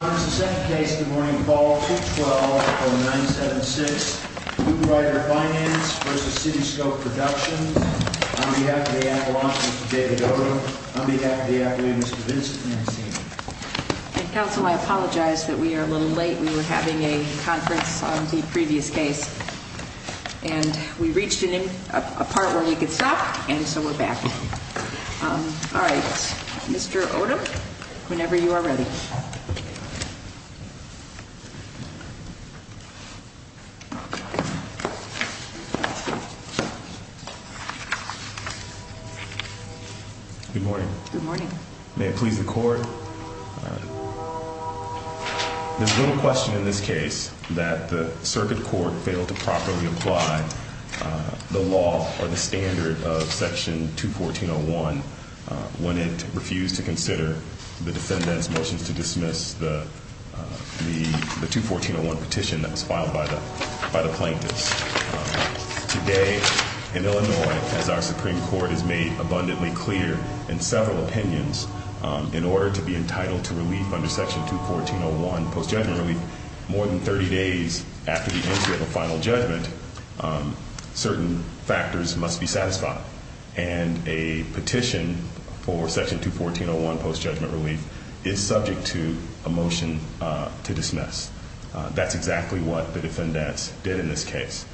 On behalf of the appellant, Mr. David Odom, on behalf of the attorney, Mr. Vincent Lansini. Counsel, I apologize that we are a little late. We were having a conference on the previous case. And we reached a part where we could stop, and so we're back. All right. Mr. Odom, whenever you are ready. Good morning. Good morning. May it please the court. There's little question in this case that the circuit court failed to properly apply the law or the standard of Section 214.01 when it refused to consider the defendant's motions to dismiss the 214.01 petition that was filed by the plaintiffs. Today in Illinois, as our Supreme Court has made abundantly clear in several opinions, in order to be entitled to relief under Section 214.01 post-judgment relief, more than 30 days after the entry of a final judgment, certain factors must be satisfied. And a petition for Section 214.01 post-judgment relief is subject to a motion to dismiss. That's exactly what the defendants did in this case.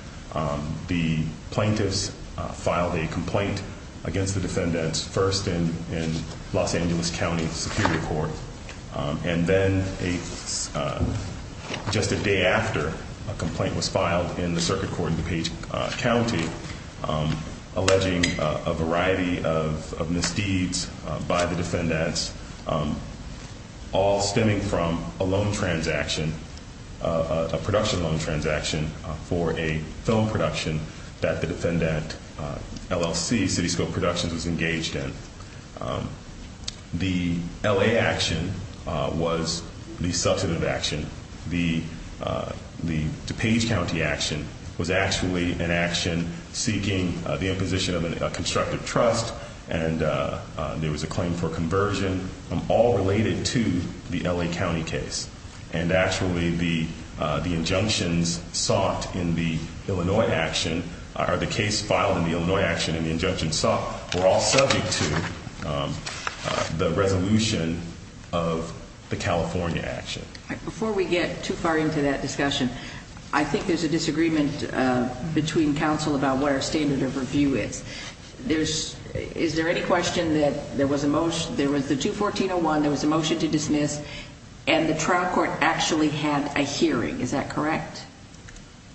The plaintiffs filed a complaint against the defendants first in Los Angeles County Superior Court, and then just a day after, a complaint was filed in the circuit court in DuPage County alleging a variety of misdeeds by the defendants, all stemming from a loan transaction, a production loan transaction for a film production that the defendant LLC, CityScope Productions, was engaged in. The L.A. action was the substantive action. The DuPage County action was actually an action seeking the imposition of a constructive trust, and there was a claim for conversion, all related to the L.A. County case. And actually, the injunctions sought in the Illinois action, or the case filed in the Illinois action and the injunctions sought, were all subject to the resolution of the California action. Before we get too far into that discussion, I think there's a disagreement between counsel about what our standard of review is. Is there any question that there was the 214-01, there was a motion to dismiss, and the trial court actually had a hearing, is that correct?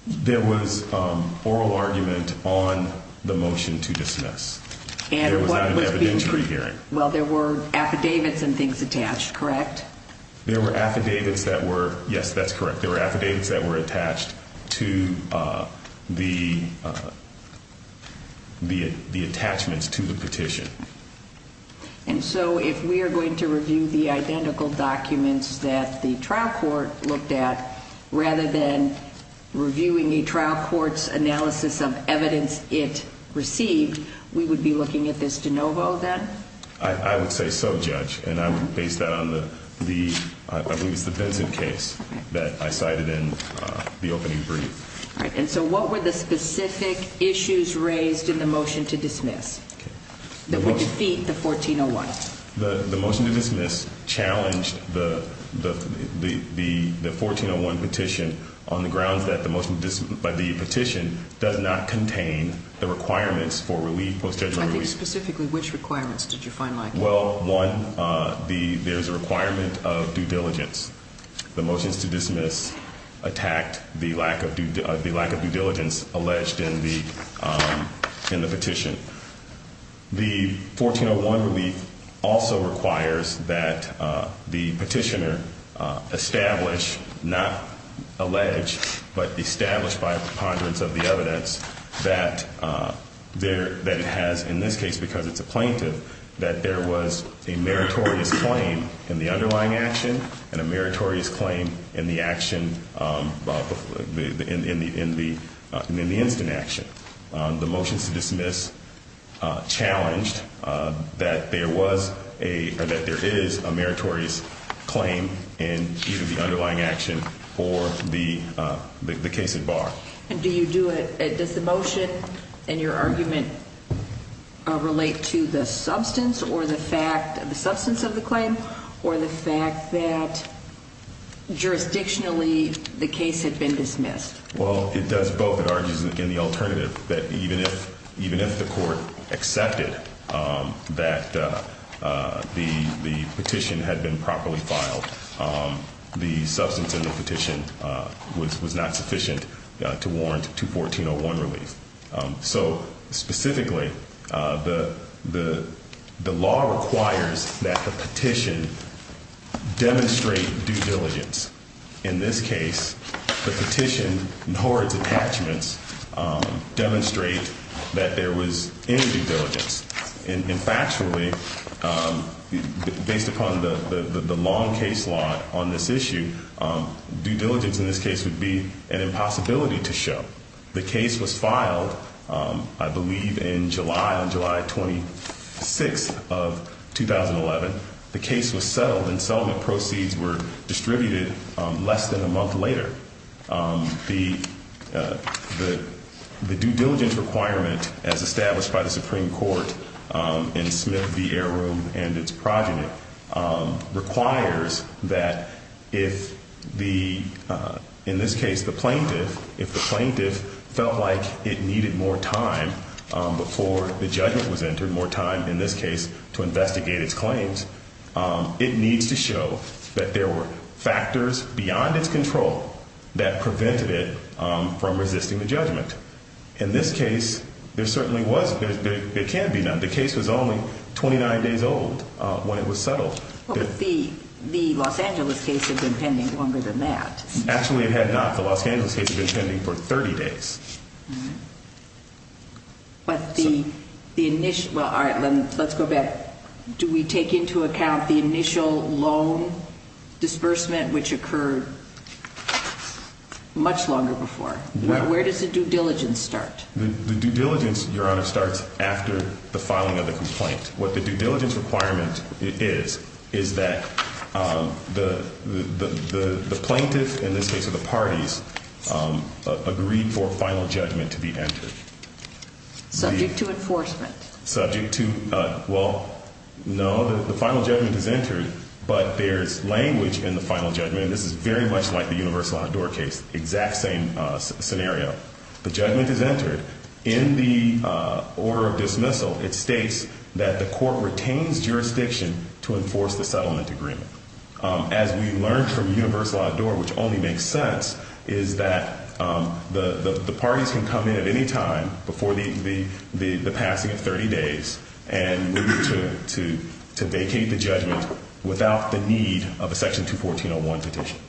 There was oral argument on the motion to dismiss. There was not an evidentiary hearing. Well, there were affidavits and things attached, correct? There were affidavits that were, yes, that's correct. There were affidavits that were attached to the attachments to the petition. And so if we are going to review the identical documents that the trial court looked at, rather than reviewing the trial court's analysis of evidence it received, we would be looking at this de novo then? I would say so, Judge, and I would base that on the, I believe it's the Benson case that I cited in the opening brief. All right. And so what were the specific issues raised in the motion to dismiss that would defeat the 14-01? The motion to dismiss challenged the 14-01 petition on the grounds that the petition does not contain the requirements for relief. I think specifically which requirements did you find likely? Well, one, there's a requirement of due diligence. The motion to dismiss attacked the lack of due diligence alleged in the petition. The 14-01 relief also requires that the petitioner establish, not allege, but establish by a preponderance of the evidence that it has, in this case because it's a plaintiff, that there was a meritorious claim in the underlying action and a meritorious claim in the action, in the instant action. The motion to dismiss challenged that there was a, or that there is a meritorious claim in either the underlying action or the case at bar. And do you do it, does the motion and your argument relate to the substance or the fact, the substance of the claim or the fact that jurisdictionally the case had been dismissed? Well, it does both. It argues in the alternative that even if the court accepted that the petition had been properly filed, the substance in the petition was not sufficient to warrant to 14-01 relief. So specifically, the law requires that the petition demonstrate due diligence. In this case, the petition and Hord's attachments demonstrate that there was any due diligence. And factually, based upon the long case law on this issue, due diligence in this case would be an impossibility to show. The case was filed, I believe, in July, on July 26th of 2011. The case was settled and settlement proceeds were distributed less than a month later. The due diligence requirement, as established by the Supreme Court in Smith v. Air Room and its progeny, requires that if the, in this case, the plaintiff, felt like it needed more time before the judgment was entered, more time, in this case, to investigate its claims, it needs to show that there were factors beyond its control that prevented it from resisting the judgment. In this case, there certainly was. There can be none. The case was only 29 days old when it was settled. But the Los Angeles case had been pending longer than that. Actually, it had not. The Los Angeles case had been pending for 30 days. But the initial, well, all right, let's go back. Do we take into account the initial loan disbursement, which occurred much longer before? Where does the due diligence start? The due diligence, Your Honor, starts after the filing of the complaint. What the due diligence requirement is, is that the plaintiff, in this case of the parties, agreed for final judgment to be entered. Subject to enforcement. Subject to, well, no, the final judgment is entered, but there is language in the final judgment, and this is very much like the Universal Hot Door case, exact same scenario. The judgment is entered. In the order of dismissal, it states that the court retains jurisdiction to enforce the settlement agreement. As we learned from Universal Hot Door, which only makes sense, is that the parties can come in at any time before the passing of 30 days and we need to vacate the judgment without the need of a Section 214.01 petition.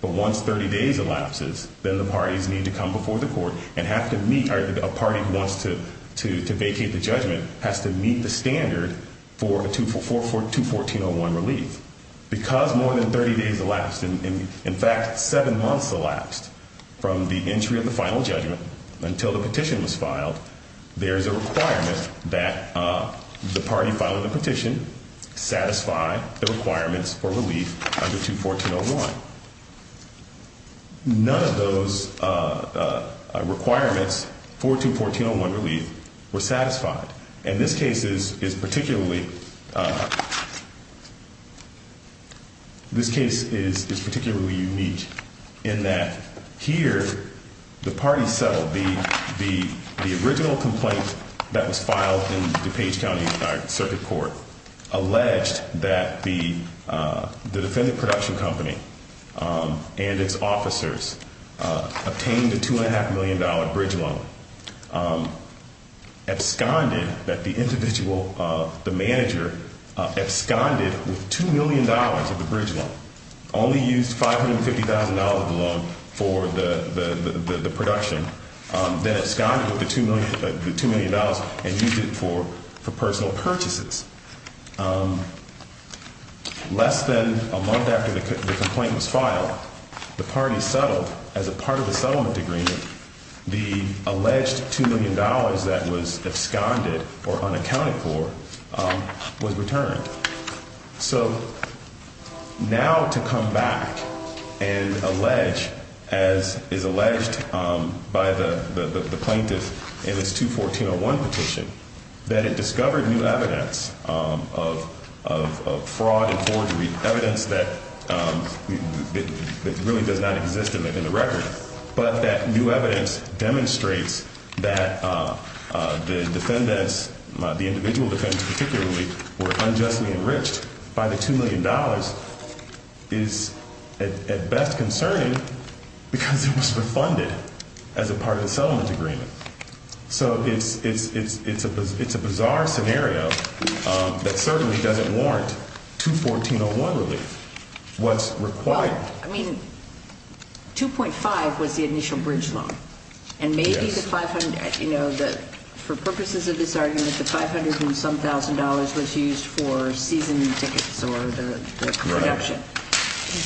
But once 30 days elapses, then the parties need to come before the court and have to meet, a party who wants to vacate the judgment has to meet the standard for a 214.01 relief. Because more than 30 days elapsed, in fact, seven months elapsed from the entry of the final judgment until the petition was filed, there is a requirement that the party filing the petition satisfy the requirements for relief under 214.01. None of those requirements for 214.01 relief were satisfied, and this case is particularly unique in that here the party settled the original complaint that was filed in DuPage County Circuit Court, alleged that the defendant production company and its officers obtained a $2.5 million bridge loan, absconded, that the individual, the manager absconded with $2 million of the bridge loan, only used $550,000 of the loan for the production, then absconded with the $2 million and used it for personal purchases. Less than a month after the complaint was filed, the party settled, as a part of the settlement agreement, the alleged $2 million that was absconded or unaccounted for was returned. So now to come back and allege, as is alleged by the plaintiff in this 214.01 petition, that it discovered new evidence of fraud and forgery, evidence that really does not exist in the record, but that new evidence demonstrates that the defendants, the individual defendants particularly, were unjustly enriched by the $2 million, is at best concerning because it was refunded as a part of the settlement agreement. So it's a bizarre scenario that certainly doesn't warrant 214.01 relief. Well, I mean, $2.5 million was the initial bridge loan. And maybe the $500,000, you know, for purposes of this argument, the $500,000 and some thousand dollars was used for season tickets or the production.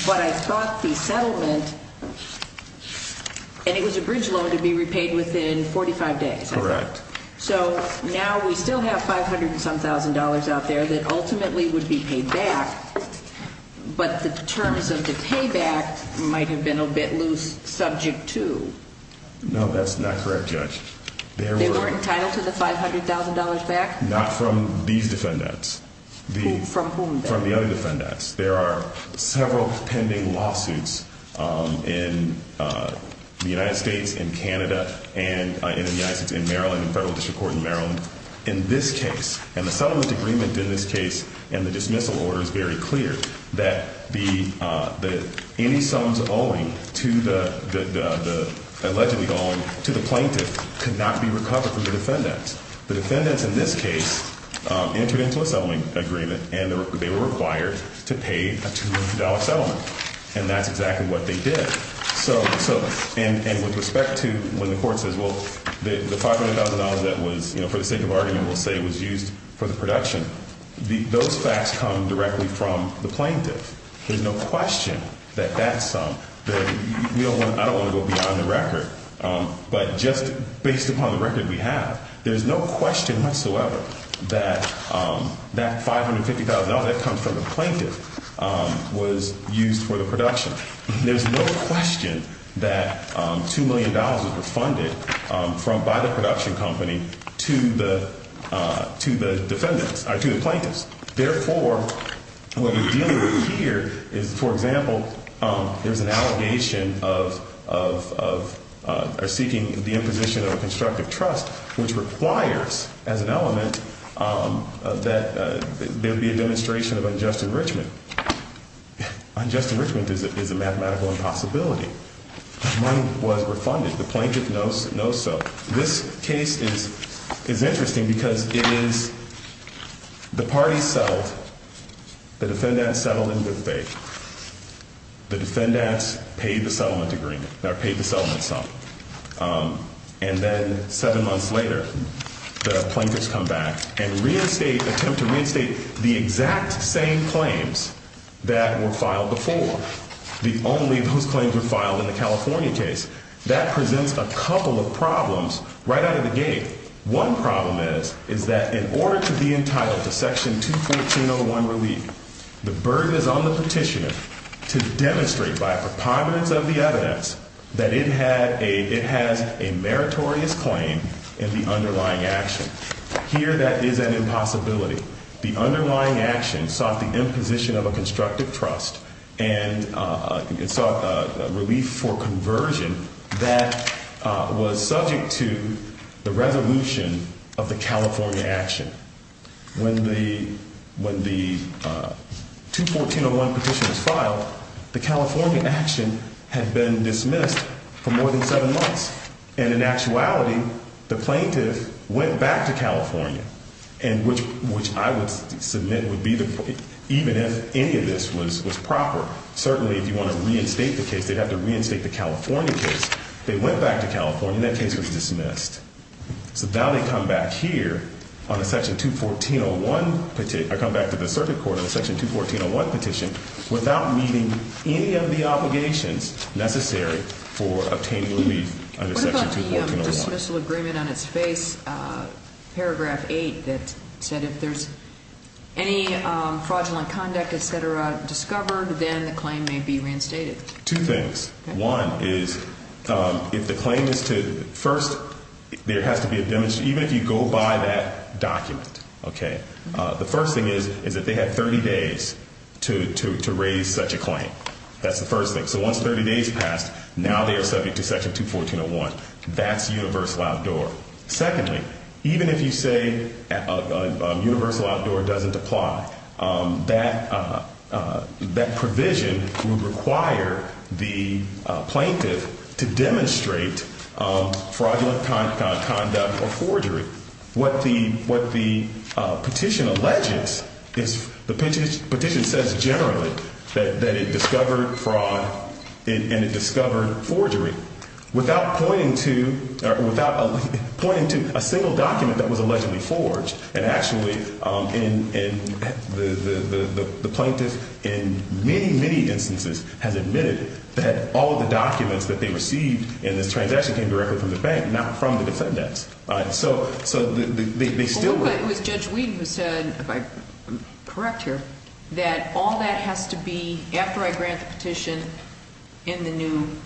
But I thought the settlement, and it was a bridge loan to be repaid within 45 days. Correct. So now we still have $500,000 and some thousand dollars out there that ultimately would be paid back. But the terms of the payback might have been a bit loose subject to. No, that's not correct, Judge. They weren't entitled to the $500,000 back? Not from these defendants. From whom? From the other defendants. There are several pending lawsuits in the United States, in Canada, and in the United States, in Maryland, in the Federal District Court in Maryland. In this case, and the settlement agreement in this case and the dismissal order is very clear, that any sums owing to the plaintiff could not be recovered from the defendants. The defendants in this case entered into a settlement agreement, and they were required to pay a $200 settlement, and that's exactly what they did. So, and with respect to when the court says, well, the $500,000 that was, you know, for the sake of argument we'll say was used for the production, those facts come directly from the plaintiff. There's no question that that sum, I don't want to go beyond the record, but just based upon the record we have, there's no question whatsoever that that $550,000 that comes from the plaintiff was used for the production. There's no question that $2 million was refunded by the production company to the defendants, or to the plaintiffs. Therefore, what we're dealing with here is, for example, there's an allegation of seeking the imposition of a constructive trust, which requires, as an element, that there be a demonstration of unjust enrichment. Unjust enrichment is a mathematical impossibility. The money was refunded. The plaintiff knows so. This case is interesting because it is the parties settled. The defendants settled in good faith. The defendants paid the settlement agreement, or paid the settlement sum. And then seven months later, the plaintiffs come back and reinstate, attempt to reinstate the exact same claims that were filed before. The only of those claims were filed in the California case. That presents a couple of problems right out of the gate. One problem is that in order to be entitled to Section 214.01 relief, the burden is on the petitioner to demonstrate by a preponderance of the evidence that it has a meritorious claim in the underlying action. Here, that is an impossibility. The underlying action sought the imposition of a constructive trust and sought relief for conversion that was subject to the resolution of the California action. When the 214.01 petition was filed, the California action had been dismissed for more than seven months. And in actuality, the plaintiff went back to California, which I would submit would be the case, even if any of this was proper. Certainly, if you want to reinstate the case, they'd have to reinstate the California case. They went back to California, and that case was dismissed. So now they come back here on a Section 214.01 petition. They come back to the circuit court on a Section 214.01 petition without meeting any of the obligations necessary for obtaining relief under Section 214.01. What about the dismissal agreement on its face, paragraph 8, that said if there's any fraudulent conduct, et cetera, discovered, then the claim may be reinstated? Two things. One is, if the claim is to – first, there has to be a – even if you go by that document, okay, the first thing is, is that they have 30 days to raise such a claim. That's the first thing. So once 30 days passed, now they are subject to Section 214.01. That's universal outdoor. Secondly, even if you say universal outdoor doesn't apply, that provision would require the plaintiff to demonstrate fraudulent conduct or forgery. What the petition alleges is – the petition says generally that it discovered fraud and it discovered forgery without pointing to a single document that was allegedly forged. And actually, the plaintiff in many, many instances has admitted that all of the documents that they received in this transaction came directly from the bank, not from the defendants. So they still – Well, but it was Judge Wheaton who said, if I'm correct here, that all that has to be – after I grant the petition in the new –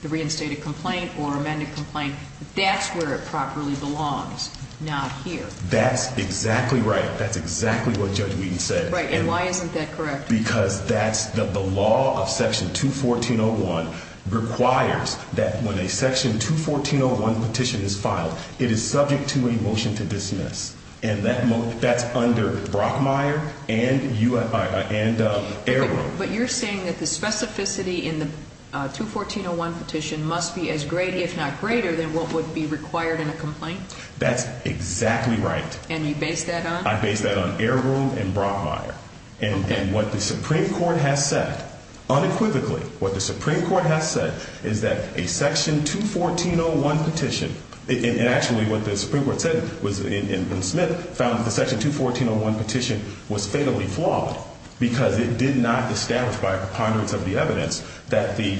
the reinstated complaint or amended complaint, that's where it properly belongs, not here. That's exactly right. That's exactly what Judge Wheaton said. Right. And why isn't that correct? Because that's – the law of Section 214.01 requires that when a Section 214.01 petition is filed, it is subject to a motion to dismiss. And that's under Brockmire and Ayrville. But you're saying that the specificity in the 214.01 petition must be as great, if not greater, than what would be required in a complaint? That's exactly right. And you base that on? I base that on Ayrville and Brockmire. Okay. And what the Supreme Court has said, unequivocally, what the Supreme Court has said is that a Section 214.01 petition – and actually what the Supreme Court said was – and Smith found that the Section 214.01 petition was fatally flawed because it did not establish by a preponderance of the evidence that the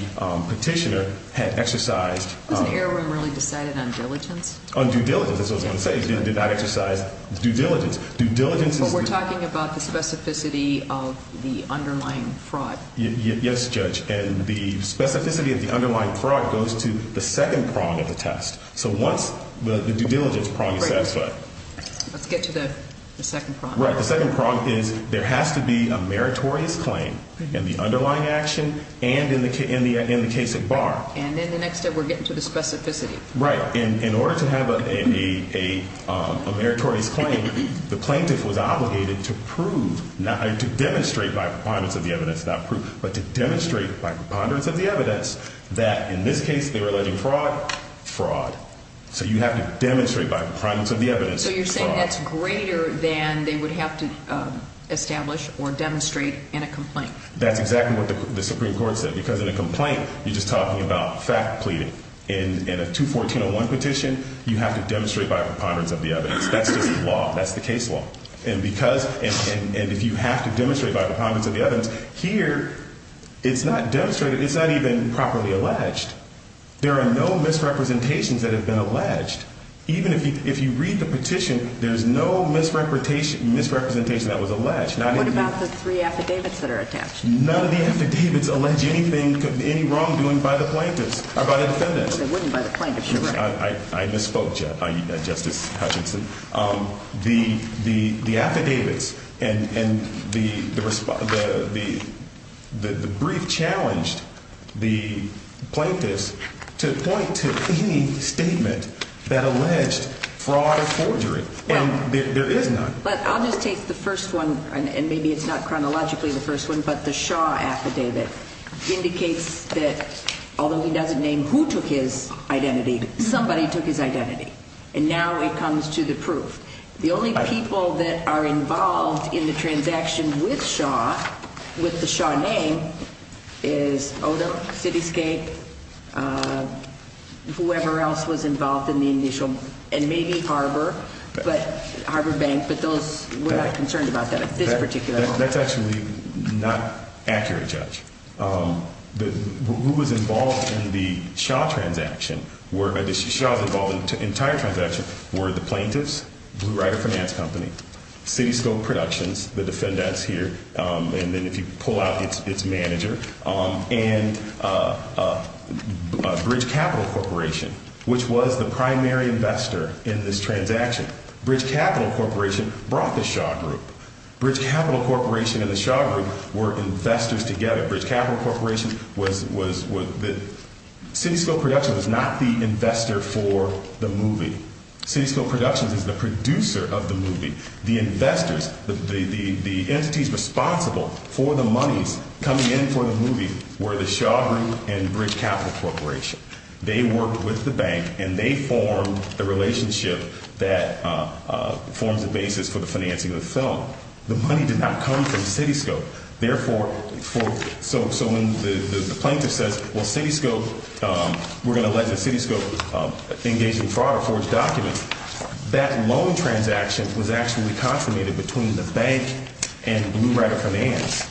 petitioner had exercised – Wasn't Erwin really decided on diligence? On due diligence, that's what I was going to say. He did not exercise due diligence. Due diligence is – But we're talking about the specificity of the underlying fraud. Yes, Judge. And the specificity of the underlying fraud goes to the second prong of the test. So once the due diligence prong is satisfied – Great. Let's get to the second prong. Right. The second prong is there has to be a meritorious claim in the underlying action and in the case at bar. And in the next step, we're getting to the specificity. Right. In order to have a meritorious claim, the plaintiff was obligated to prove – or to demonstrate by a preponderance of the evidence, not prove, but to demonstrate by a preponderance of the evidence that in this case they were alleging fraud, fraud. So you have to demonstrate by a preponderance of the evidence fraud. So you're saying that's greater than they would have to establish or demonstrate in a complaint? That's exactly what the Supreme Court said. Because in a complaint, you're just talking about fact pleading. In a 214.01 petition, you have to demonstrate by a preponderance of the evidence. That's just the law. That's the case law. And because – and if you have to demonstrate by a preponderance of the evidence, here it's not demonstrated. It's not even properly alleged. There are no misrepresentations that have been alleged. Even if you read the petition, there's no misrepresentation that was alleged. What about the three affidavits that are attached? None of the affidavits allege anything – any wrongdoing by the plaintiffs or by the defendants. They wouldn't by the plaintiffs. You're right. I misspoke, Justice Hutchinson. The affidavits and the brief challenged the plaintiffs to point to any statement that alleged fraud or forgery. And there is none. But I'll just take the first one, and maybe it's not chronologically the first one, but the Shaw affidavit indicates that although he doesn't name who took his identity, somebody took his identity. And now it comes to the proof. The only people that are involved in the transaction with Shaw, with the Shaw name, is Odom, Cityscape, whoever else was involved in the initial – and maybe Harbor, but – Harbor Bank. But those – we're not concerned about that at this particular moment. That's actually not accurate, Judge. Who was involved in the Shaw transaction were – the Shaws involved in the entire transaction were the plaintiffs, Blue Rider Finance Company, Cityscope Productions, the defendants here, and then if you pull out its manager, and Bridge Capital Corporation, which was the primary investor in this transaction. Bridge Capital Corporation brought the Shaw group. Bridge Capital Corporation and the Shaw group were investors together. Bridge Capital Corporation was – Cityscope Productions was not the investor for the movie. Cityscope Productions is the producer of the movie. The investors, the entities responsible for the monies coming in for the movie were the Shaw group and Bridge Capital Corporation. They worked with the bank, and they formed the relationship that forms the basis for the financing of the film. The money did not come from Cityscope. Therefore, for – so when the plaintiff says, well, Cityscope – we're going to let the Cityscope engage in fraud or forge documents, that loan transaction was actually contradicted between the bank and Blue Rider Finance.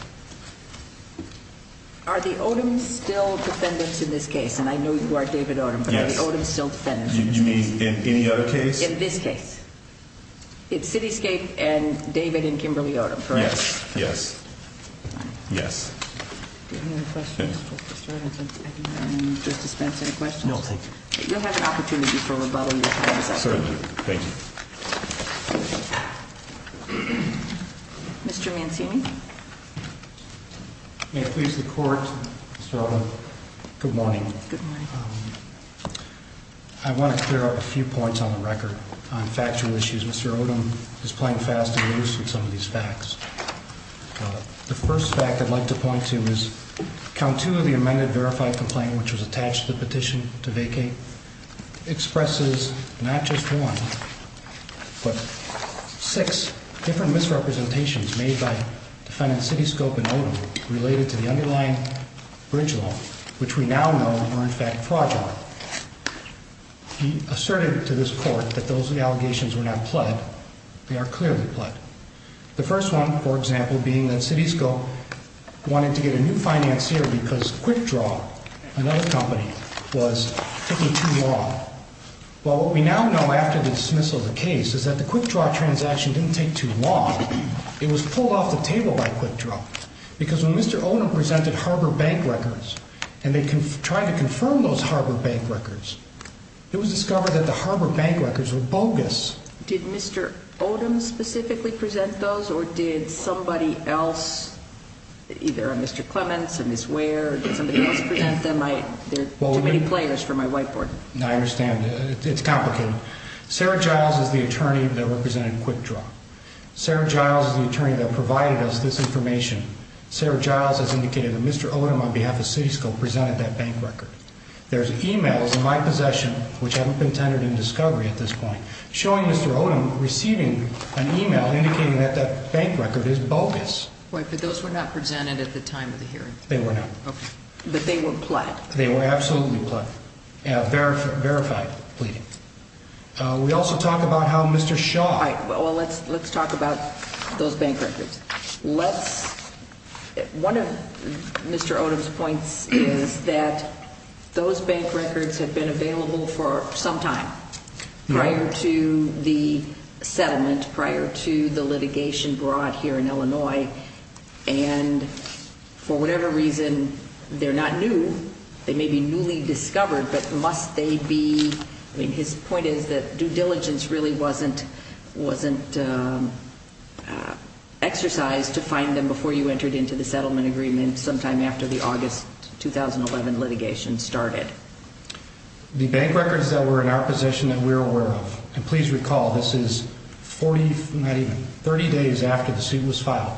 Are the Odoms still defendants in this case? And I know you are David Odom. Yes. But are the Odoms still defendants in this case? You mean in any other case? In this case. It's Cityscape and David and Kimberly Odom, correct? Yes. Yes. Yes. Do you have any other questions for Mr. Edwardson? I think I'm going to dispense any questions. No, thank you. You'll have an opportunity for rebuttal in a second. Certainly. Thank you. Mr. Mancini. May it please the Court, Mr. Odom, good morning. Good morning. I want to clear up a few points on the record on factual issues. Mr. Odom is playing fast and loose with some of these facts. The first fact I'd like to point to is Count 2 of the amended verified complaint, which was attached to the petition to vacate, expresses not just one, but six different misrepresentations made by defendants Cityscape and Odom related to the underlying bridge loan, which we now know were in fact fraudulent. He asserted to this Court that those allegations were not pled, they are clearly pled. The first one, for example, being that Citisco wanted to get a new financier because Quickdraw, another company, was taking too long. Well, what we now know after the dismissal of the case is that the Quickdraw transaction didn't take too long. It was pulled off the table by Quickdraw because when Mr. Odom presented Harbor Bank records and they tried to confirm those Harbor Bank records, it was discovered that the Harbor Bank records were bogus. Did Mr. Odom specifically present those or did somebody else, either a Mr. Clements, a Ms. Ware, or did somebody else present them? There are too many players for my whiteboard. I understand. It's complicated. Sarah Giles is the attorney that represented Quickdraw. Sarah Giles is the attorney that provided us this information. Sarah Giles has indicated that Mr. Odom, on behalf of Citisco, presented that bank record. There's e-mails in my possession, which haven't been tendered in discovery at this point, showing Mr. Odom receiving an e-mail indicating that that bank record is bogus. Wait, but those were not presented at the time of the hearing? They were not. Okay. But they were pled? They were absolutely pled, verified pleading. We also talk about how Mr. Shaw All right. Well, let's talk about those bank records. One of Mr. Odom's points is that those bank records have been available for some time prior to the settlement, prior to the litigation brought here in Illinois, and for whatever reason, they're not new. They may be newly discovered, but must they be? I mean, his point is that due diligence really wasn't exercised to find them before you entered into the settlement agreement, sometime after the August 2011 litigation started. The bank records that were in our possession that we're aware of, and please recall, this is 30 days after the suit was filed.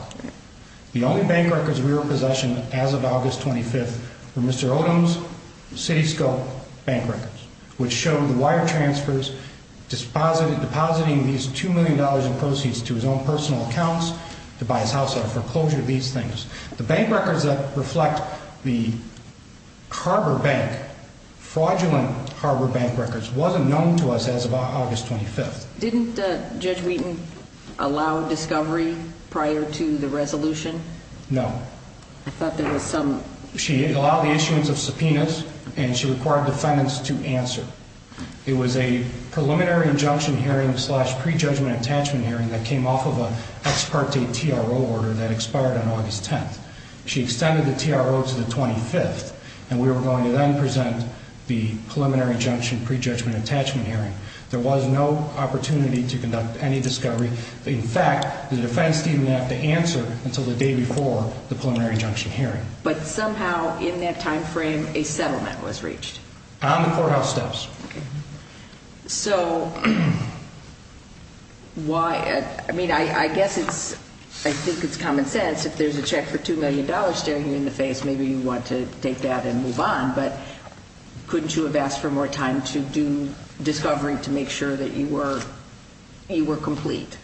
The only bank records we were in possession as of August 25th were Mr. Odom's Citisco bank records, which show the wire transfers, depositing these $2 million in proceeds to his own personal accounts to buy his house out of foreclosure, these things. The bank records that reflect the Harbor Bank, fraudulent Harbor Bank records, wasn't known to us as of August 25th. Didn't Judge Wheaton allow discovery prior to the resolution? No. I thought there was some She allowed the issuance of subpoenas, and she required defendants to answer. It was a preliminary injunction hearing slash prejudgment attachment hearing that came off of an ex parte TRO order that expired on August 10th. She extended the TRO to the 25th, and we were going to then present the preliminary injunction prejudgment attachment hearing. There was no opportunity to conduct any discovery. In fact, the defense didn't have to answer until the day before the preliminary injunction hearing. But somehow in that time frame, a settlement was reached. On the courthouse steps. So, why? I mean, I guess it's, I think it's common sense. If there's a check for $2 million staring you in the face, maybe you want to take that and move on. But couldn't you have asked for more time to do discovery to make sure that you were, you were complete?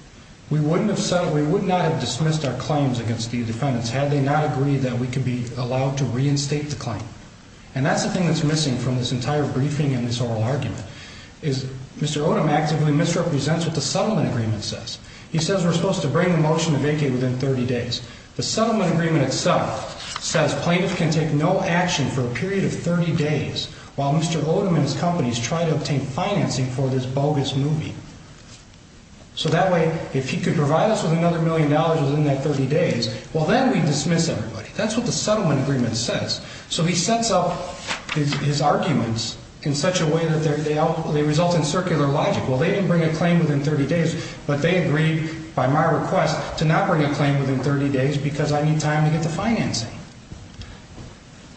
We wouldn't have settled. We would not have dismissed our claims against the defendants had they not agreed that we could be allowed to reinstate the claim. And that's the thing that's missing from this entire briefing in this oral argument is Mr. Odom actively misrepresents what the settlement agreement says. He says we're supposed to bring the motion to vacate within 30 days. The settlement agreement itself says plaintiff can take no action for a period of 30 days while Mr. Odom and his companies try to obtain financing for this bogus movie. So that way, if he could provide us with another million dollars within that 30 days, well, then we dismiss everybody. That's what the settlement agreement says. So he sets up his arguments in such a way that they result in circular logic. Well, they didn't bring a claim within 30 days, but they agreed by my request to not bring a claim within 30 days because I need time to get the financing.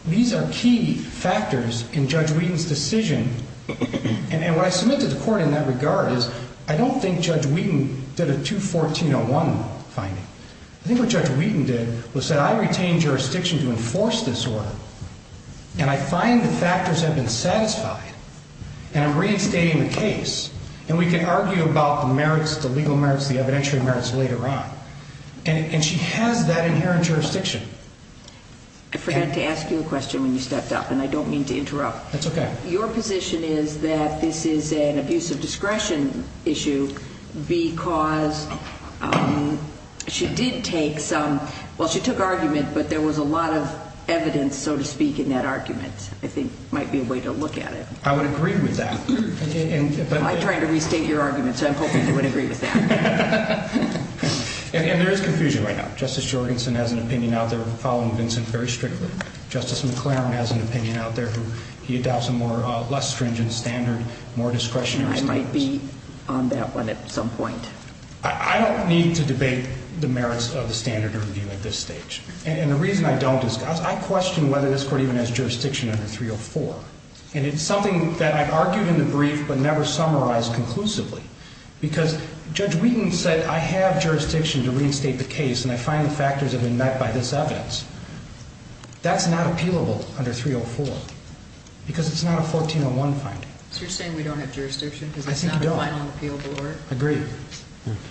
These are key factors in Judge Wheaton's decision. And what I submit to the court in that regard is I don't think Judge Wheaton did a 214-01 finding. I think what Judge Wheaton did was said, I retain jurisdiction to enforce this order, and I find the factors have been satisfied. And I'm reinstating the case. And we can argue about the merits, the legal merits, the evidentiary merits later on. And she has that inherent jurisdiction. I forgot to ask you a question when you stepped up, and I don't mean to interrupt. That's okay. Your position is that this is an abuse of discretion issue because she did take some – well, she took argument, but there was a lot of evidence, so to speak, in that argument. I think it might be a way to look at it. I would agree with that. I'm trying to restate your argument, so I'm hoping you would agree with that. And there is confusion right now. Justice Jorgensen has an opinion out there following Vincent very strictly. Justice McClaren has an opinion out there. He adopts a more – less stringent standard, more discretionary standards. I might be on that one at some point. I don't need to debate the merits of the standard review at this stage. And the reason I don't is because I question whether this Court even has jurisdiction under 304. And it's something that I've argued in the brief but never summarized conclusively because Judge Wheaton said, I have jurisdiction to reinstate the case, and I find the factors have been met by this evidence. That's not appealable under 304 because it's not a 1401 finding. So you're saying we don't have jurisdiction? I think you don't. It's not a final appeal, or? Agreed.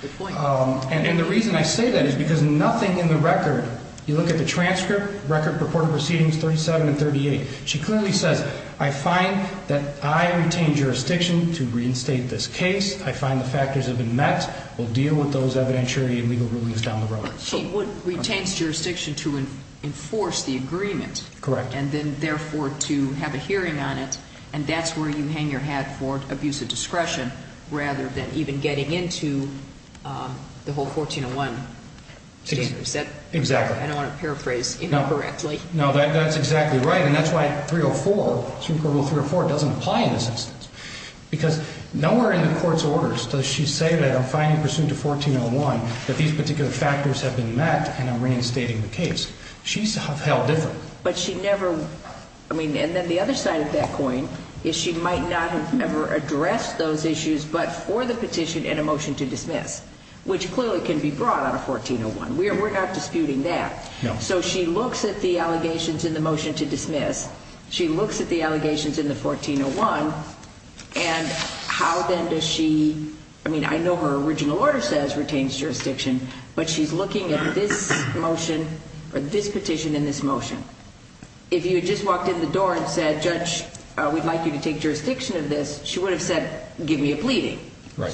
Good point. And the reason I say that is because nothing in the record – you look at the transcript, record purported proceedings 37 and 38. She clearly says, I find that I retain jurisdiction to reinstate this case. I find the factors have been met. We'll deal with those evidentiary and legal rulings down the road. She would – retains jurisdiction to enforce the agreement. Correct. And then, therefore, to have a hearing on it. And that's where you hang your hat for abuse of discretion rather than even getting into the whole 1401. Exactly. I don't want to paraphrase incorrectly. No, that's exactly right. And that's why 304, Supreme Court Rule 304, doesn't apply in this instance. Because nowhere in the court's orders does she say that I'm finding pursuant to 1401 that these particular factors have been met and I'm reinstating the case. She's held different. But she never – I mean, and then the other side of that coin is she might not have ever addressed those issues but for the petition and a motion to dismiss, which clearly can be brought on a 1401. We're not disputing that. No. So she looks at the allegations in the motion to dismiss. She looks at the allegations in the 1401. And how then does she – I mean, I know her original order says retains jurisdiction, but she's looking at this motion or this petition and this motion. If you had just walked in the door and said, Judge, we'd like you to take jurisdiction of this, she would have said, give me a pleading.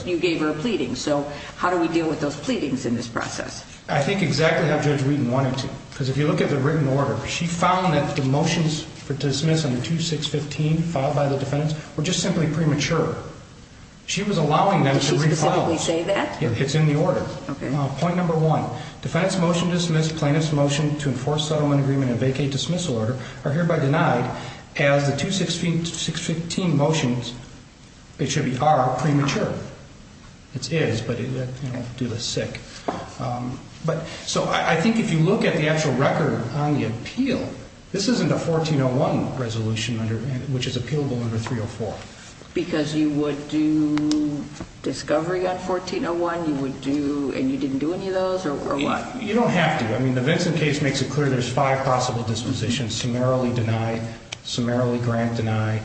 You gave her a pleading. So how do we deal with those pleadings in this process? I think exactly how Judge Wheaton wanted to. Because if you look at the written order, she found that the motions to dismiss under 2615 filed by the defendants were just simply premature. She was allowing them to refile. Did she specifically say that? It's in the order. Okay. Point number one, defendant's motion to dismiss, plaintiff's motion to enforce settlement agreement and vacate dismissal order are hereby denied as the 2615 motions are premature. It is, but do the sick. So I think if you look at the actual record on the appeal, this isn't a 1401 resolution which is appealable under 304. Because you would do discovery on 1401, you would do – and you didn't do any of those or what? You don't have to. I mean, the Vincent case makes it clear there's five possible dispositions, summarily denied, summarily grant denied,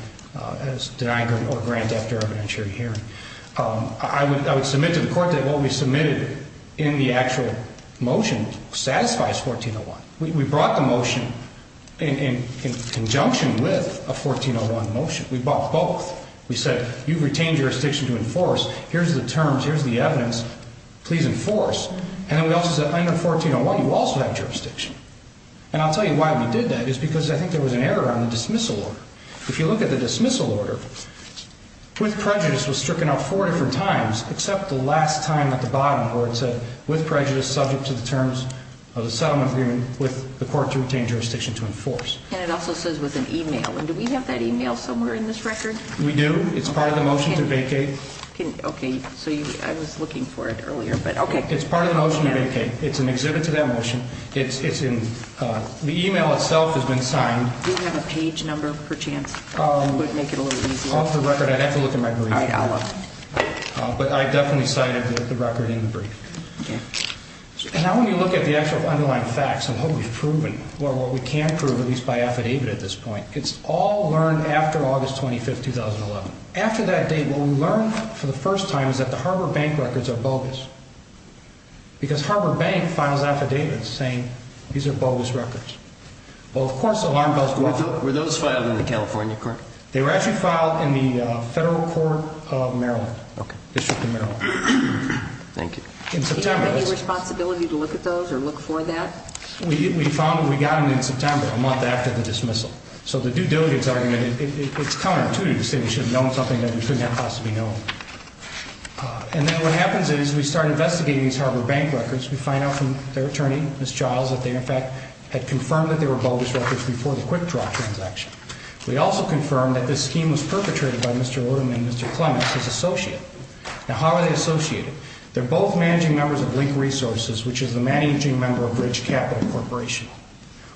deny or grant after evidentiary hearing. I would submit to the court that what we submitted in the actual motion satisfies 1401. We brought the motion in conjunction with a 1401 motion. We brought both. We said you've retained jurisdiction to enforce. Here's the terms. Here's the evidence. Please enforce. And then we also said under 1401, you also have jurisdiction. And I'll tell you why we did that is because I think there was an error on the dismissal order. If you look at the dismissal order, with prejudice was stricken out four different times except the last time at the bottom where it said with prejudice subject to the terms of the settlement agreement with the court to retain jurisdiction to enforce. And it also says with an e-mail. And do we have that e-mail somewhere in this record? We do. It's part of the motion to vacate. Okay. So I was looking for it earlier, but okay. It's part of the motion to vacate. It's an exhibit to that motion. It's in – the e-mail itself has been signed. Do you have a page number per chance? It would make it a little easier. Off the record. I'd have to look in my brief. All right. I'll look. But I definitely cited the record in the brief. Okay. And now when you look at the actual underlying facts and what we've proven or what we can prove, at least by affidavit at this point, it's all learned after August 25, 2011. After that date, what we learned for the first time is that the Harbor Bank records are bogus because Harbor Bank files affidavits saying these are bogus records. Well, of course alarm bells go off. Were those filed in the California court? They were actually filed in the federal court of Maryland. Okay. District of Maryland. Thank you. Do you have any responsibility to look at those or look for that? We found that we got them in September, a month after the dismissal. So the due diligence argument, it's counterintuitive to say we should have known something that we couldn't have possibly known. And then what happens is we start investigating these Harbor Bank records. We find out from their attorney, Ms. Giles, that they, in fact, had confirmed that they were bogus records before the quickdraw transaction. We also confirmed that this scheme was perpetrated by Mr. Odom and Mr. Clements, his associate. Now, how are they associated? They're both managing members of Link Resources, which is the managing member of Bridge Capital Corporation.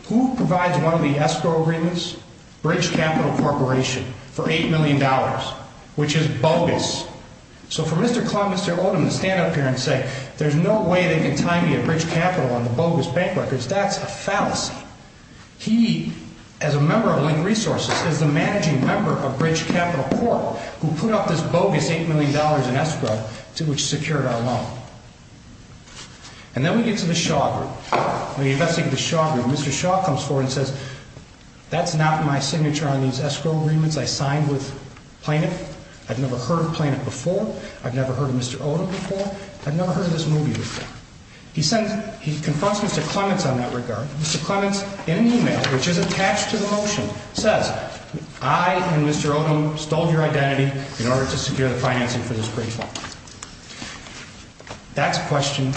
Who provides one of the escrow agreements? Bridge Capital Corporation for $8 million, which is bogus. So for Mr. Clements or Odom to stand up here and say there's no way they can tie me at Bridge Capital on the bogus bank records, that's a fallacy. He, as a member of Link Resources, is the managing member of Bridge Capital Corp, who put up this bogus $8 million in escrow to which secured our loan. And then we get to the Shaw Group. When we investigate the Shaw Group, Mr. Shaw comes forward and says, that's not my signature on these escrow agreements. I signed with Planet. I've never heard of Planet before. I've never heard of Mr. Odom before. I've never heard of this movie before. He confronts Mr. Clements on that regard. Mr. Clements, in an email, which is attached to the motion, says, I and Mr. Odom stole your identity in order to secure the financing for this great fund. That's a question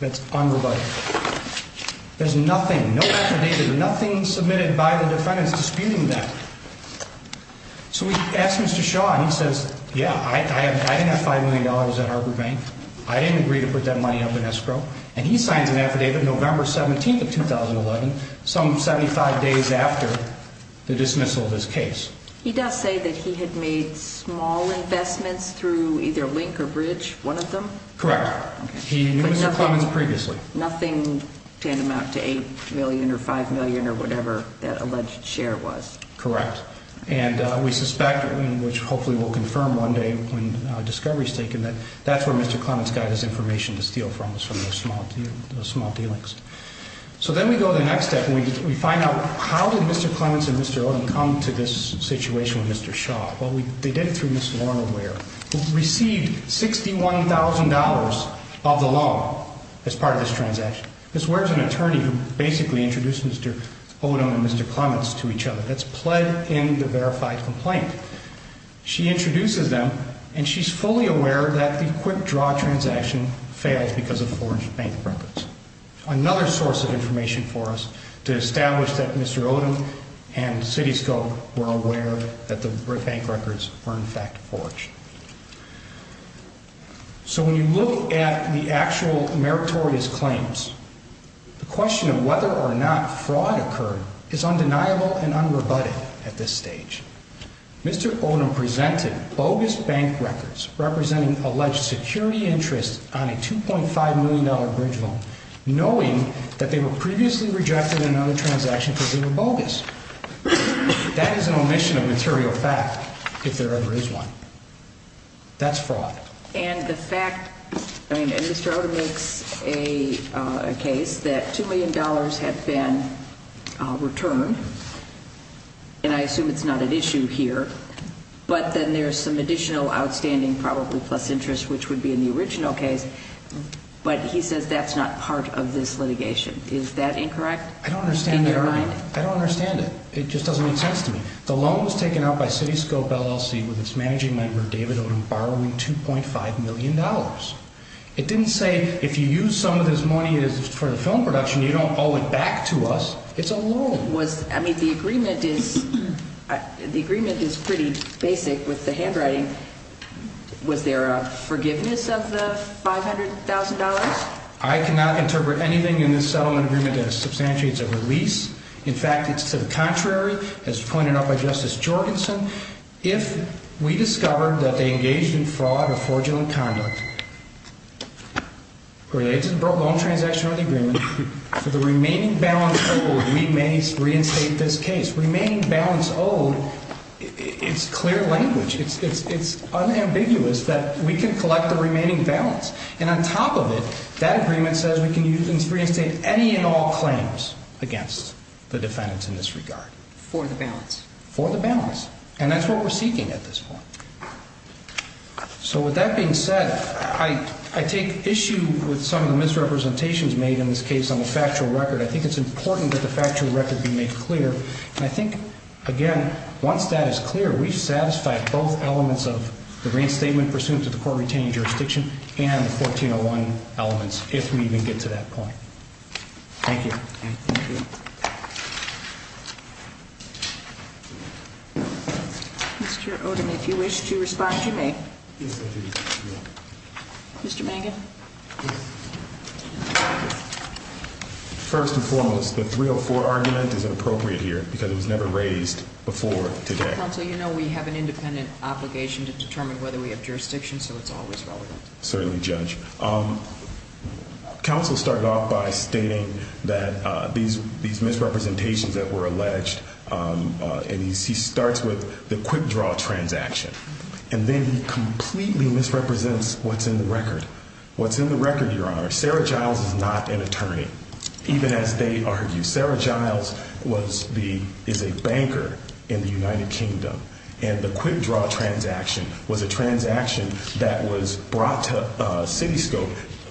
that's unrebutted. There's nothing, no affidavit, nothing submitted by the defendants disputing that. So we ask Mr. Shaw, and he says, yeah, I didn't have $5 million at Harbor Bank. I didn't agree to put that money up in escrow. And he signs an affidavit November 17th of 2011, some 75 days after the dismissal of his case. He does say that he had made small investments through either Link or Bridge, one of them. Correct. He knew Mr. Clements previously. Nothing to amount to $8 million or $5 million or whatever that alleged share was. Correct. And we suspect, which hopefully we'll confirm one day when discovery is taken, that that's where Mr. Clements got his information to steal from, was from those small dealings. So then we go to the next step, and we find out how did Mr. Clements and Mr. Odom come to this situation with Mr. Shaw? Well, they did it through Ms. Lorna Ware, who received $61,000 of the loan as part of this transaction. Ms. Ware is an attorney who basically introduced Mr. Odom and Mr. Clements to each other. That's pled in the verified complaint. She introduces them, and she's fully aware that the quick draw transaction failed because of forged bank records. Another source of information for us to establish that Mr. Odom and CityScope were aware that the bank records were in fact forged. So when you look at the actual meritorious claims, the question of whether or not fraud occurred is undeniable and unrebutted at this stage. Mr. Odom presented bogus bank records representing alleged security interest on a $2.5 million bridge loan, knowing that they were previously rejected in another transaction because they were bogus. That is an omission of material fact, if there ever is one. That's fraud. And the fact, I mean, Mr. Odom makes a case that $2 million had been returned, and I assume it's not at issue here, but then there's some additional outstanding, probably plus interest, which would be in the original case, but he says that's not part of this litigation. Is that incorrect in your mind? I don't understand it. I don't understand it. It just doesn't make sense to me. The loan was taken out by CityScope LLC with its managing member, David Odom, borrowing $2.5 million. It didn't say if you use some of this money for the film production, you don't owe it back to us. It's a loan. I mean, the agreement is pretty basic with the handwriting. Was there a forgiveness of the $500,000? I cannot interpret anything in this settlement agreement that substantiates a release. In fact, it's to the contrary, as pointed out by Justice Jorgensen. If we discover that they engaged in fraud or fraudulent conduct related to the loan transaction of the agreement, for the remaining balance owed, we may reinstate this case. Remaining balance owed, it's clear language. It's unambiguous that we can collect the remaining balance. And on top of it, that agreement says we can reinstate any and all claims against the defendants in this regard. For the balance. For the balance. And that's what we're seeking at this point. So with that being said, I take issue with some of the misrepresentations made in this case on the factual record. I think it's important that the factual record be made clear. And I think, again, once that is clear, we've satisfied both elements of the reinstatement pursuant to the court retaining jurisdiction and the 1401 elements, if we even get to that point. Thank you. Thank you. Mr. Odom, if you wish to respond, you may. Mr. Mangan. First and foremost, the 304 argument is inappropriate here because it was never raised before today. Counsel, you know we have an independent obligation to determine whether we have jurisdiction, so it's always relevant. Certainly, Judge. Counsel started off by stating that these misrepresentations that were alleged, and he starts with the quick draw transaction. And then he completely misrepresents what's in the record. What's in the record, Your Honor, Sarah Giles is not an attorney, even as they argue. Sarah Giles is a banker in the United Kingdom. And the quick draw transaction was a transaction that was brought to Citiscope,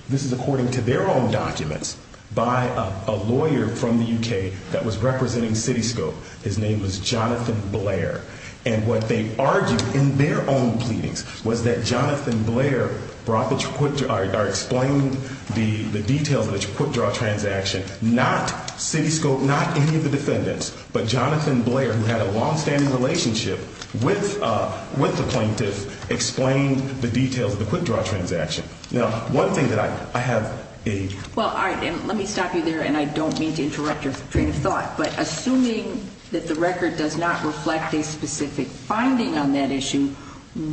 this is according to their own documents, by a lawyer from the U.K. that was representing Citiscope. His name was Jonathan Blair. And what they argued in their own pleadings was that Jonathan Blair explained the details of the quick draw transaction, not Citiscope, not any of the defendants, but Jonathan Blair, who had a longstanding relationship with the plaintiff, explained the details of the quick draw transaction. Now, one thing that I have a – Well, all right. And let me stop you there, and I don't mean to interrupt your train of thought. But assuming that the record does not reflect a specific finding on that issue,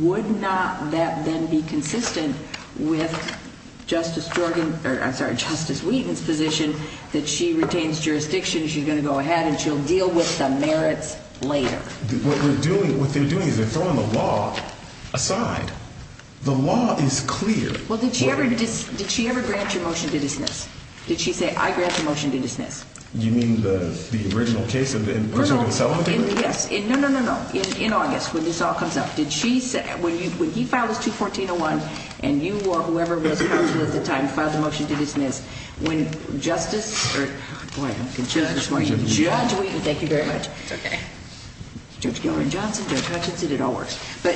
would not that then be consistent with Justice Jordan – or, I'm sorry, Justice Wheaton's position that she retains jurisdiction, she's going to go ahead, and she'll deal with the merits later? What we're doing – what they're doing is they're throwing the law aside. The law is clear. Well, did she ever grant your motion to dismiss? Did she say, I grant the motion to dismiss? Do you mean the original case in which we're going to sell it? Yes. No, no, no, no, no. In August, when this all comes up, did she say – when he filed this 214-01, and you or whoever was counsel at the time filed the motion to dismiss, when Justice – boy, I'm confused this morning. Judge Wheaton. Judge Wheaton, thank you very much. It's okay. Judge Gilroy-Johnson, Judge Hutchinson, it all works. But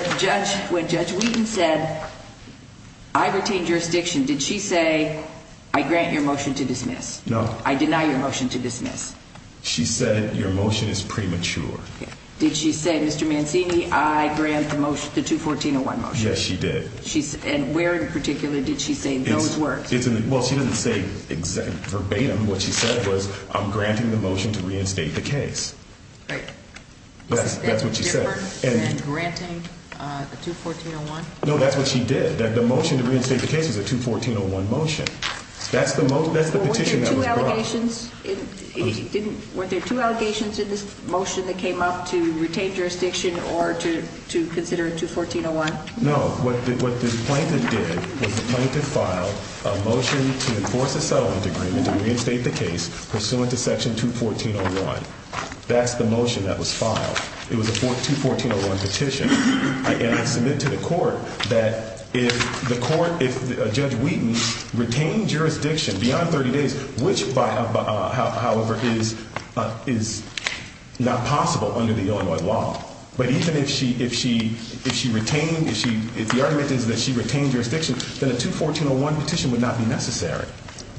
when Judge Wheaton said, I retain jurisdiction, did she say, I grant your motion to dismiss? No. I deny your motion to dismiss. She said, your motion is premature. Did she say, Mr. Mancini, I grant the 214-01 motion? Yes, she did. And where in particular did she say those words? Well, she didn't say verbatim. What she said was, I'm granting the motion to reinstate the case. Right. That's what she said. Is that different than granting the 214-01? No, that's what she did. The motion to reinstate the case was a 214-01 motion. That's the petition that was brought. Weren't there two allegations in this motion that came up to retain jurisdiction or to consider 214-01? No. What the plaintiff did was the plaintiff filed a motion to enforce a settlement agreement to reinstate the case pursuant to Section 214-01. That's the motion that was filed. It was a 214-01 petition. I submit to the court that if Judge Wheaton retained jurisdiction beyond 30 days, which, however, is not possible under the Illinois law, but even if the argument is that she retained jurisdiction, then a 214-01 petition would not be necessary.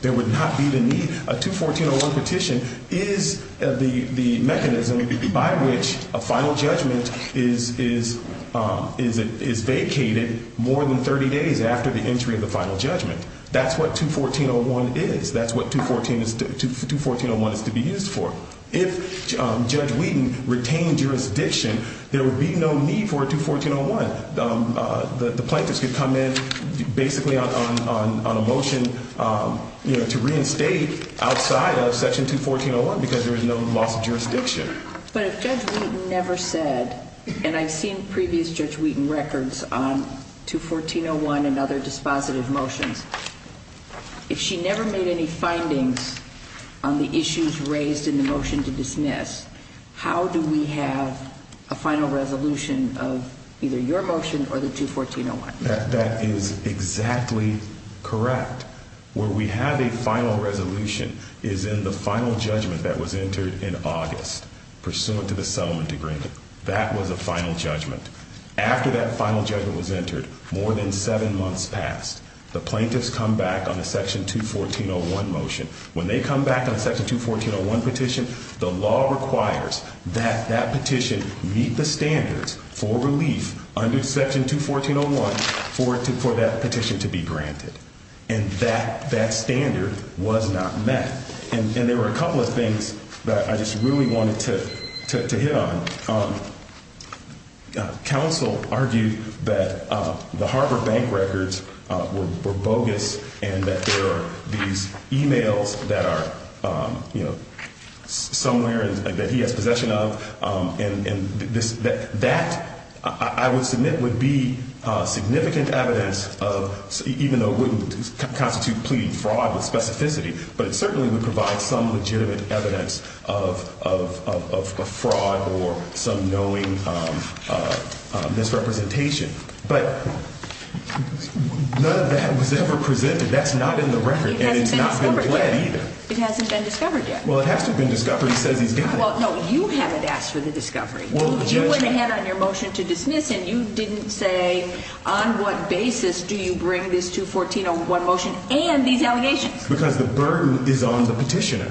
There would not be the need. A 214-01 petition is the mechanism by which a final judgment is vacated more than 30 days after the entry of the final judgment. That's what 214-01 is. That's what 214-01 is to be used for. If Judge Wheaton retained jurisdiction, there would be no need for a 214-01. The plaintiffs could come in basically on a motion to reinstate outside of Section 214-01 because there is no loss of jurisdiction. But if Judge Wheaton never said, and I've seen previous Judge Wheaton records on 214-01 and other dispositive motions, if she never made any findings on the issues raised in the motion to dismiss, how do we have a final resolution of either your motion or the 214-01? That is exactly correct. Where we have a final resolution is in the final judgment that was entered in August, pursuant to the settlement agreement. That was a final judgment. After that final judgment was entered, more than seven months passed. The plaintiffs come back on a Section 214-01 motion. When they come back on a Section 214-01 petition, the law requires that that petition meet the standards for relief under Section 214-01 for that petition to be granted. And that standard was not met. And there were a couple of things that I just really wanted to hit on. Counsel argued that the Harbor Bank records were bogus and that there are these e-mails that are, you know, somewhere that he has possession of. And that, I would submit, would be significant evidence of, even though it wouldn't constitute pleading fraud with specificity, but it certainly would provide some legitimate evidence of fraud or some knowing misrepresentation. But none of that was ever presented. That's not in the record, and it's not been pled either. It hasn't been discovered yet. It hasn't been discovered yet. Well, it has to have been discovered. He says he's done it. Well, no, you haven't asked for the discovery. You went ahead on your motion to dismiss, and you didn't say on what basis do you bring this 214-01 motion and these allegations. Because the burden is on the petitioner.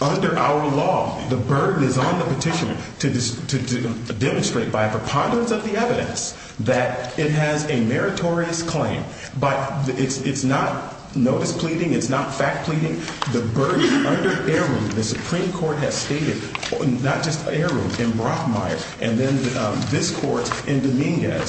Under our law, the burden is on the petitioner to demonstrate by a preponderance of the evidence that it has a meritorious claim. But it's not notice pleading. It's not fact pleading. The burden under Errin, the Supreme Court has stated, not just Errin, in Brockmeyer, and then this court in Dominguez,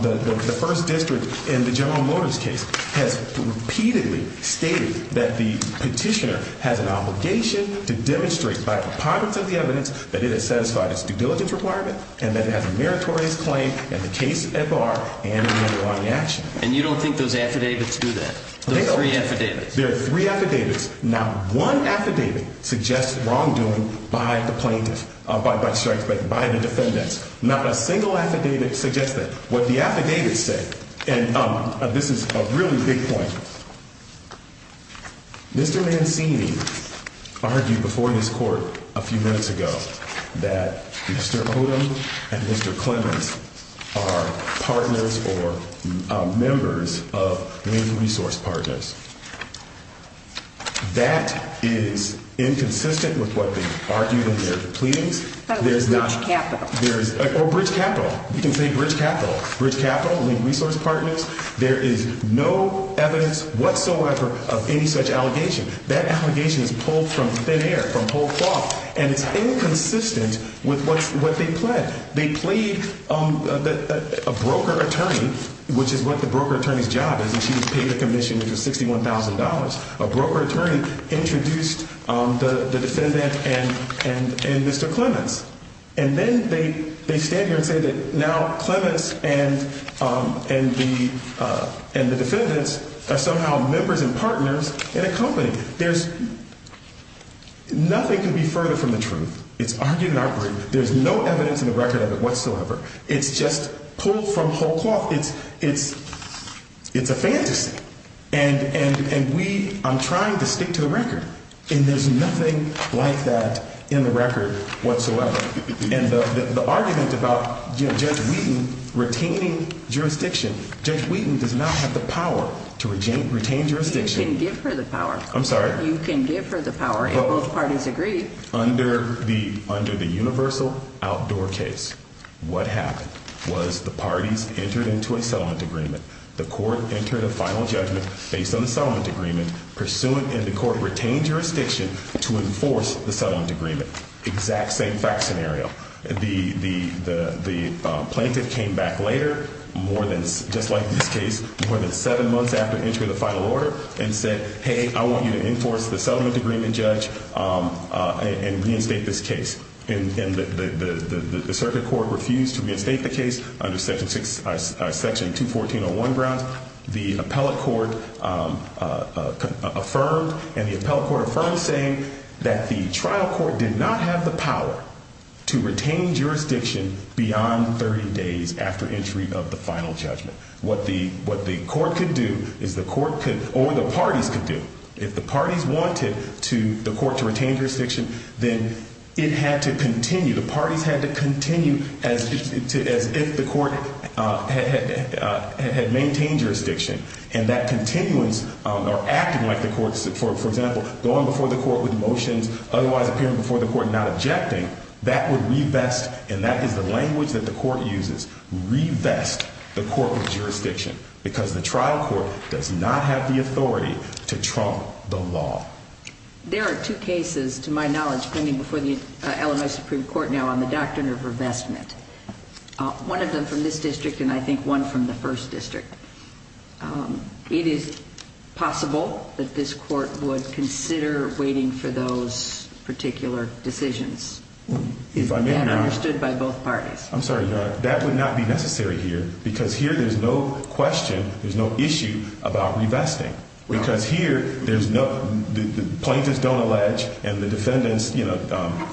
the first district in the General Motors case, has repeatedly stated that the petitioner has an obligation to demonstrate by a preponderance of the evidence that it has satisfied its due diligence requirement and that it has a meritorious claim in the case at bar and in the underlying action. And you don't think those affidavits do that? Those three affidavits? There are three affidavits. Not one affidavit suggests wrongdoing by the plaintiff, by the defendant. Not a single affidavit suggests that. What the affidavits say, and this is a really big point, Mr. Mancini argued before this court a few minutes ago that Mr. Odom and Mr. Clemmons are partners or members of major resource partners. That is inconsistent with what they argued in their pleadings. Bridge capital. Or bridge capital. You can say bridge capital. Bridge capital, link resource partners. There is no evidence whatsoever of any such allegation. That allegation is pulled from thin air, from whole cloth, and it's inconsistent with what they plead. They plead a broker attorney, which is what the broker attorney's job is, and she was paid a commission which was $61,000. A broker attorney introduced the defendant and Mr. Clemmons. And then they stand here and say that now Clemmons and the defendants are somehow members and partners in a company. There's nothing could be further from the truth. It's argued in our court. There's no evidence in the record of it whatsoever. It's just pulled from whole cloth. It's a fantasy. And we are trying to stick to the record. And there's nothing like that in the record whatsoever. And the argument about Judge Wheaton retaining jurisdiction, Judge Wheaton does not have the power to retain jurisdiction. You can give her the power. I'm sorry? You can give her the power, and both parties agree. Okay, under the universal outdoor case, what happened was the parties entered into a settlement agreement. The court entered a final judgment based on the settlement agreement, pursuant, and the court retained jurisdiction to enforce the settlement agreement. Exact same fact scenario. The plaintiff came back later, more than just like this case, more than seven months after entry of the final order and said, hey, I want you to enforce the settlement agreement, Judge, and reinstate this case. And the circuit court refused to reinstate the case under Section 214.01 Browns. The appellate court affirmed, and the appellate court affirmed saying that the trial court did not have the power to retain jurisdiction beyond 30 days after entry of the final judgment. What the court could do is the court could, or the parties could do, if the parties wanted the court to retain jurisdiction, then it had to continue. The parties had to continue as if the court had maintained jurisdiction. And that continuance, or acting like the court, for example, going before the court with motions, otherwise appearing before the court not objecting, that would revest, and that is the language that the court uses, revest the court with jurisdiction, because the trial court does not have the authority to trump the law. There are two cases, to my knowledge, pending before the Illinois Supreme Court now on the doctrine of revestment. One of them from this district, and I think one from the first district. It is possible that this court would consider waiting for those particular decisions. If I may, Your Honor. And understood by both parties. I'm sorry, Your Honor, that would not be necessary here, because here there's no question, there's no issue about revesting. Because here, the plaintiffs don't allege, and the defendants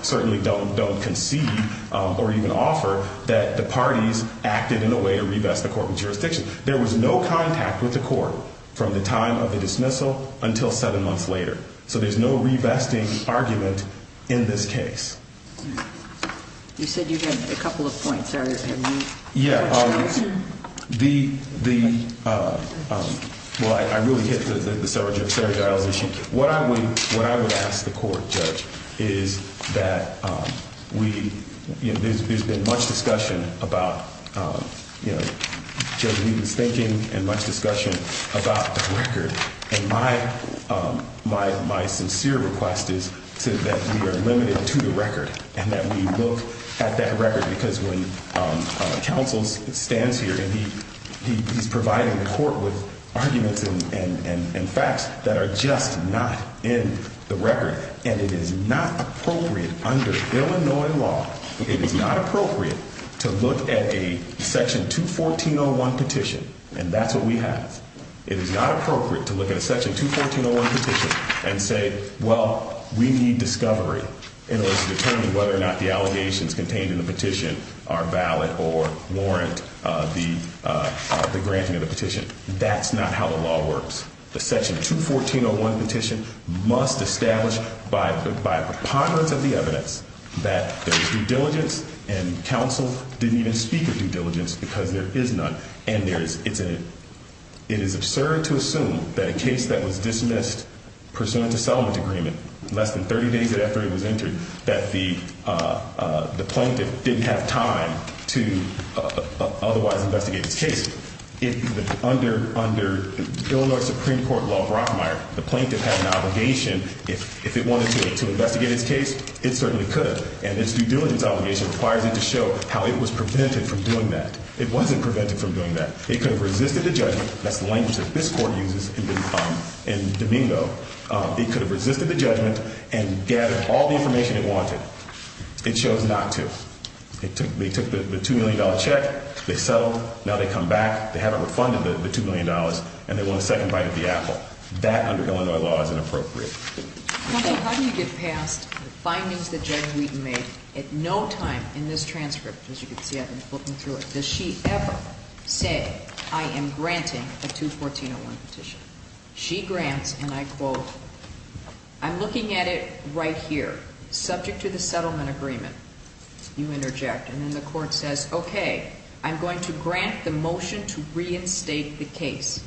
certainly don't concede, or even offer, that the parties acted in a way to revest the court with jurisdiction. There was no contact with the court from the time of the dismissal until seven months later. So there's no revesting argument in this case. You said you had a couple of points. Yeah. Well, I really hit the sergiles issue. What I would ask the court, Judge, is that there's been much discussion about Judge Wheaton's thinking and much discussion about the record. And my sincere request is that we are limited to the record, and that we look at that record, because when counsel stands here and he's providing the court with arguments and facts that are just not in the record, and it is not appropriate under Illinois law, it is not appropriate to look at a Section 214.01 petition, and that's what we have. It is not appropriate to look at a Section 214.01 petition and say, well, we need discovery in order to determine whether or not the allegations contained in the petition are valid or warrant the granting of the petition. That's not how the law works. The Section 214.01 petition must establish by a preponderance of the evidence that there is due diligence, and counsel didn't even speak of due diligence because there is none. And it is absurd to assume that a case that was dismissed pursuant to settlement agreement less than 30 days after it was entered, that the plaintiff didn't have time to otherwise investigate his case. Under Illinois Supreme Court law of Rothmeier, the plaintiff had an obligation. If it wanted to investigate his case, it certainly could. And its due diligence obligation requires it to show how it was prevented from doing that. It wasn't prevented from doing that. It could have resisted the judgment. That's the language that this Court uses in Domingo. It could have resisted the judgment and gathered all the information it wanted. It chose not to. They took the $2 million check. They settled. Now they come back. They haven't refunded the $2 million, and they want a second bite at the apple. That, under Illinois law, is inappropriate. How do you get past the findings that Judge Wheaton made at no time in this transcript? As you can see, I've been flipping through it. Does she ever say, I am granting a 214-01 petition? She grants, and I quote, I'm looking at it right here, subject to the settlement agreement. You interject, and then the Court says, okay, I'm going to grant the motion to reinstate the case.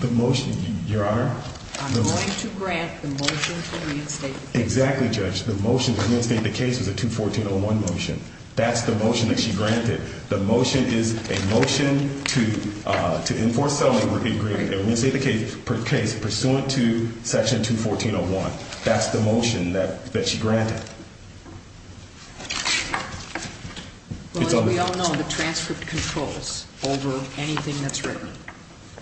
The motion, Your Honor? I'm going to grant the motion to reinstate the case. Exactly, Judge. The motion to reinstate the case was a 214-01 motion. That's the motion that she granted. The motion is a motion to enforce settlement agreement and reinstate the case pursuant to Section 214-01. That's the motion that she granted. Well, as we all know, the transcript controls over anything that's written.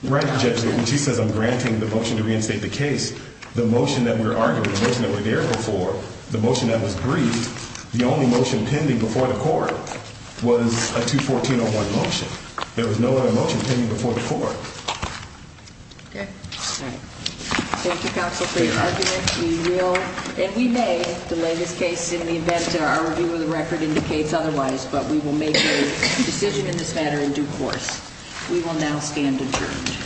Right, Judge. When she says I'm granting the motion to reinstate the case, the motion that we're arguing, the motion that we're there for, the motion that was briefed, the only motion pending before the Court was a 214-01 motion. There was no other motion pending before the Court. Okay. All right. Thank you, Counsel, for your argument. We will, and we may, delay this case in the event that our review of the record indicates otherwise, but we will make a decision in this matter in due course. We will now stand adjourned.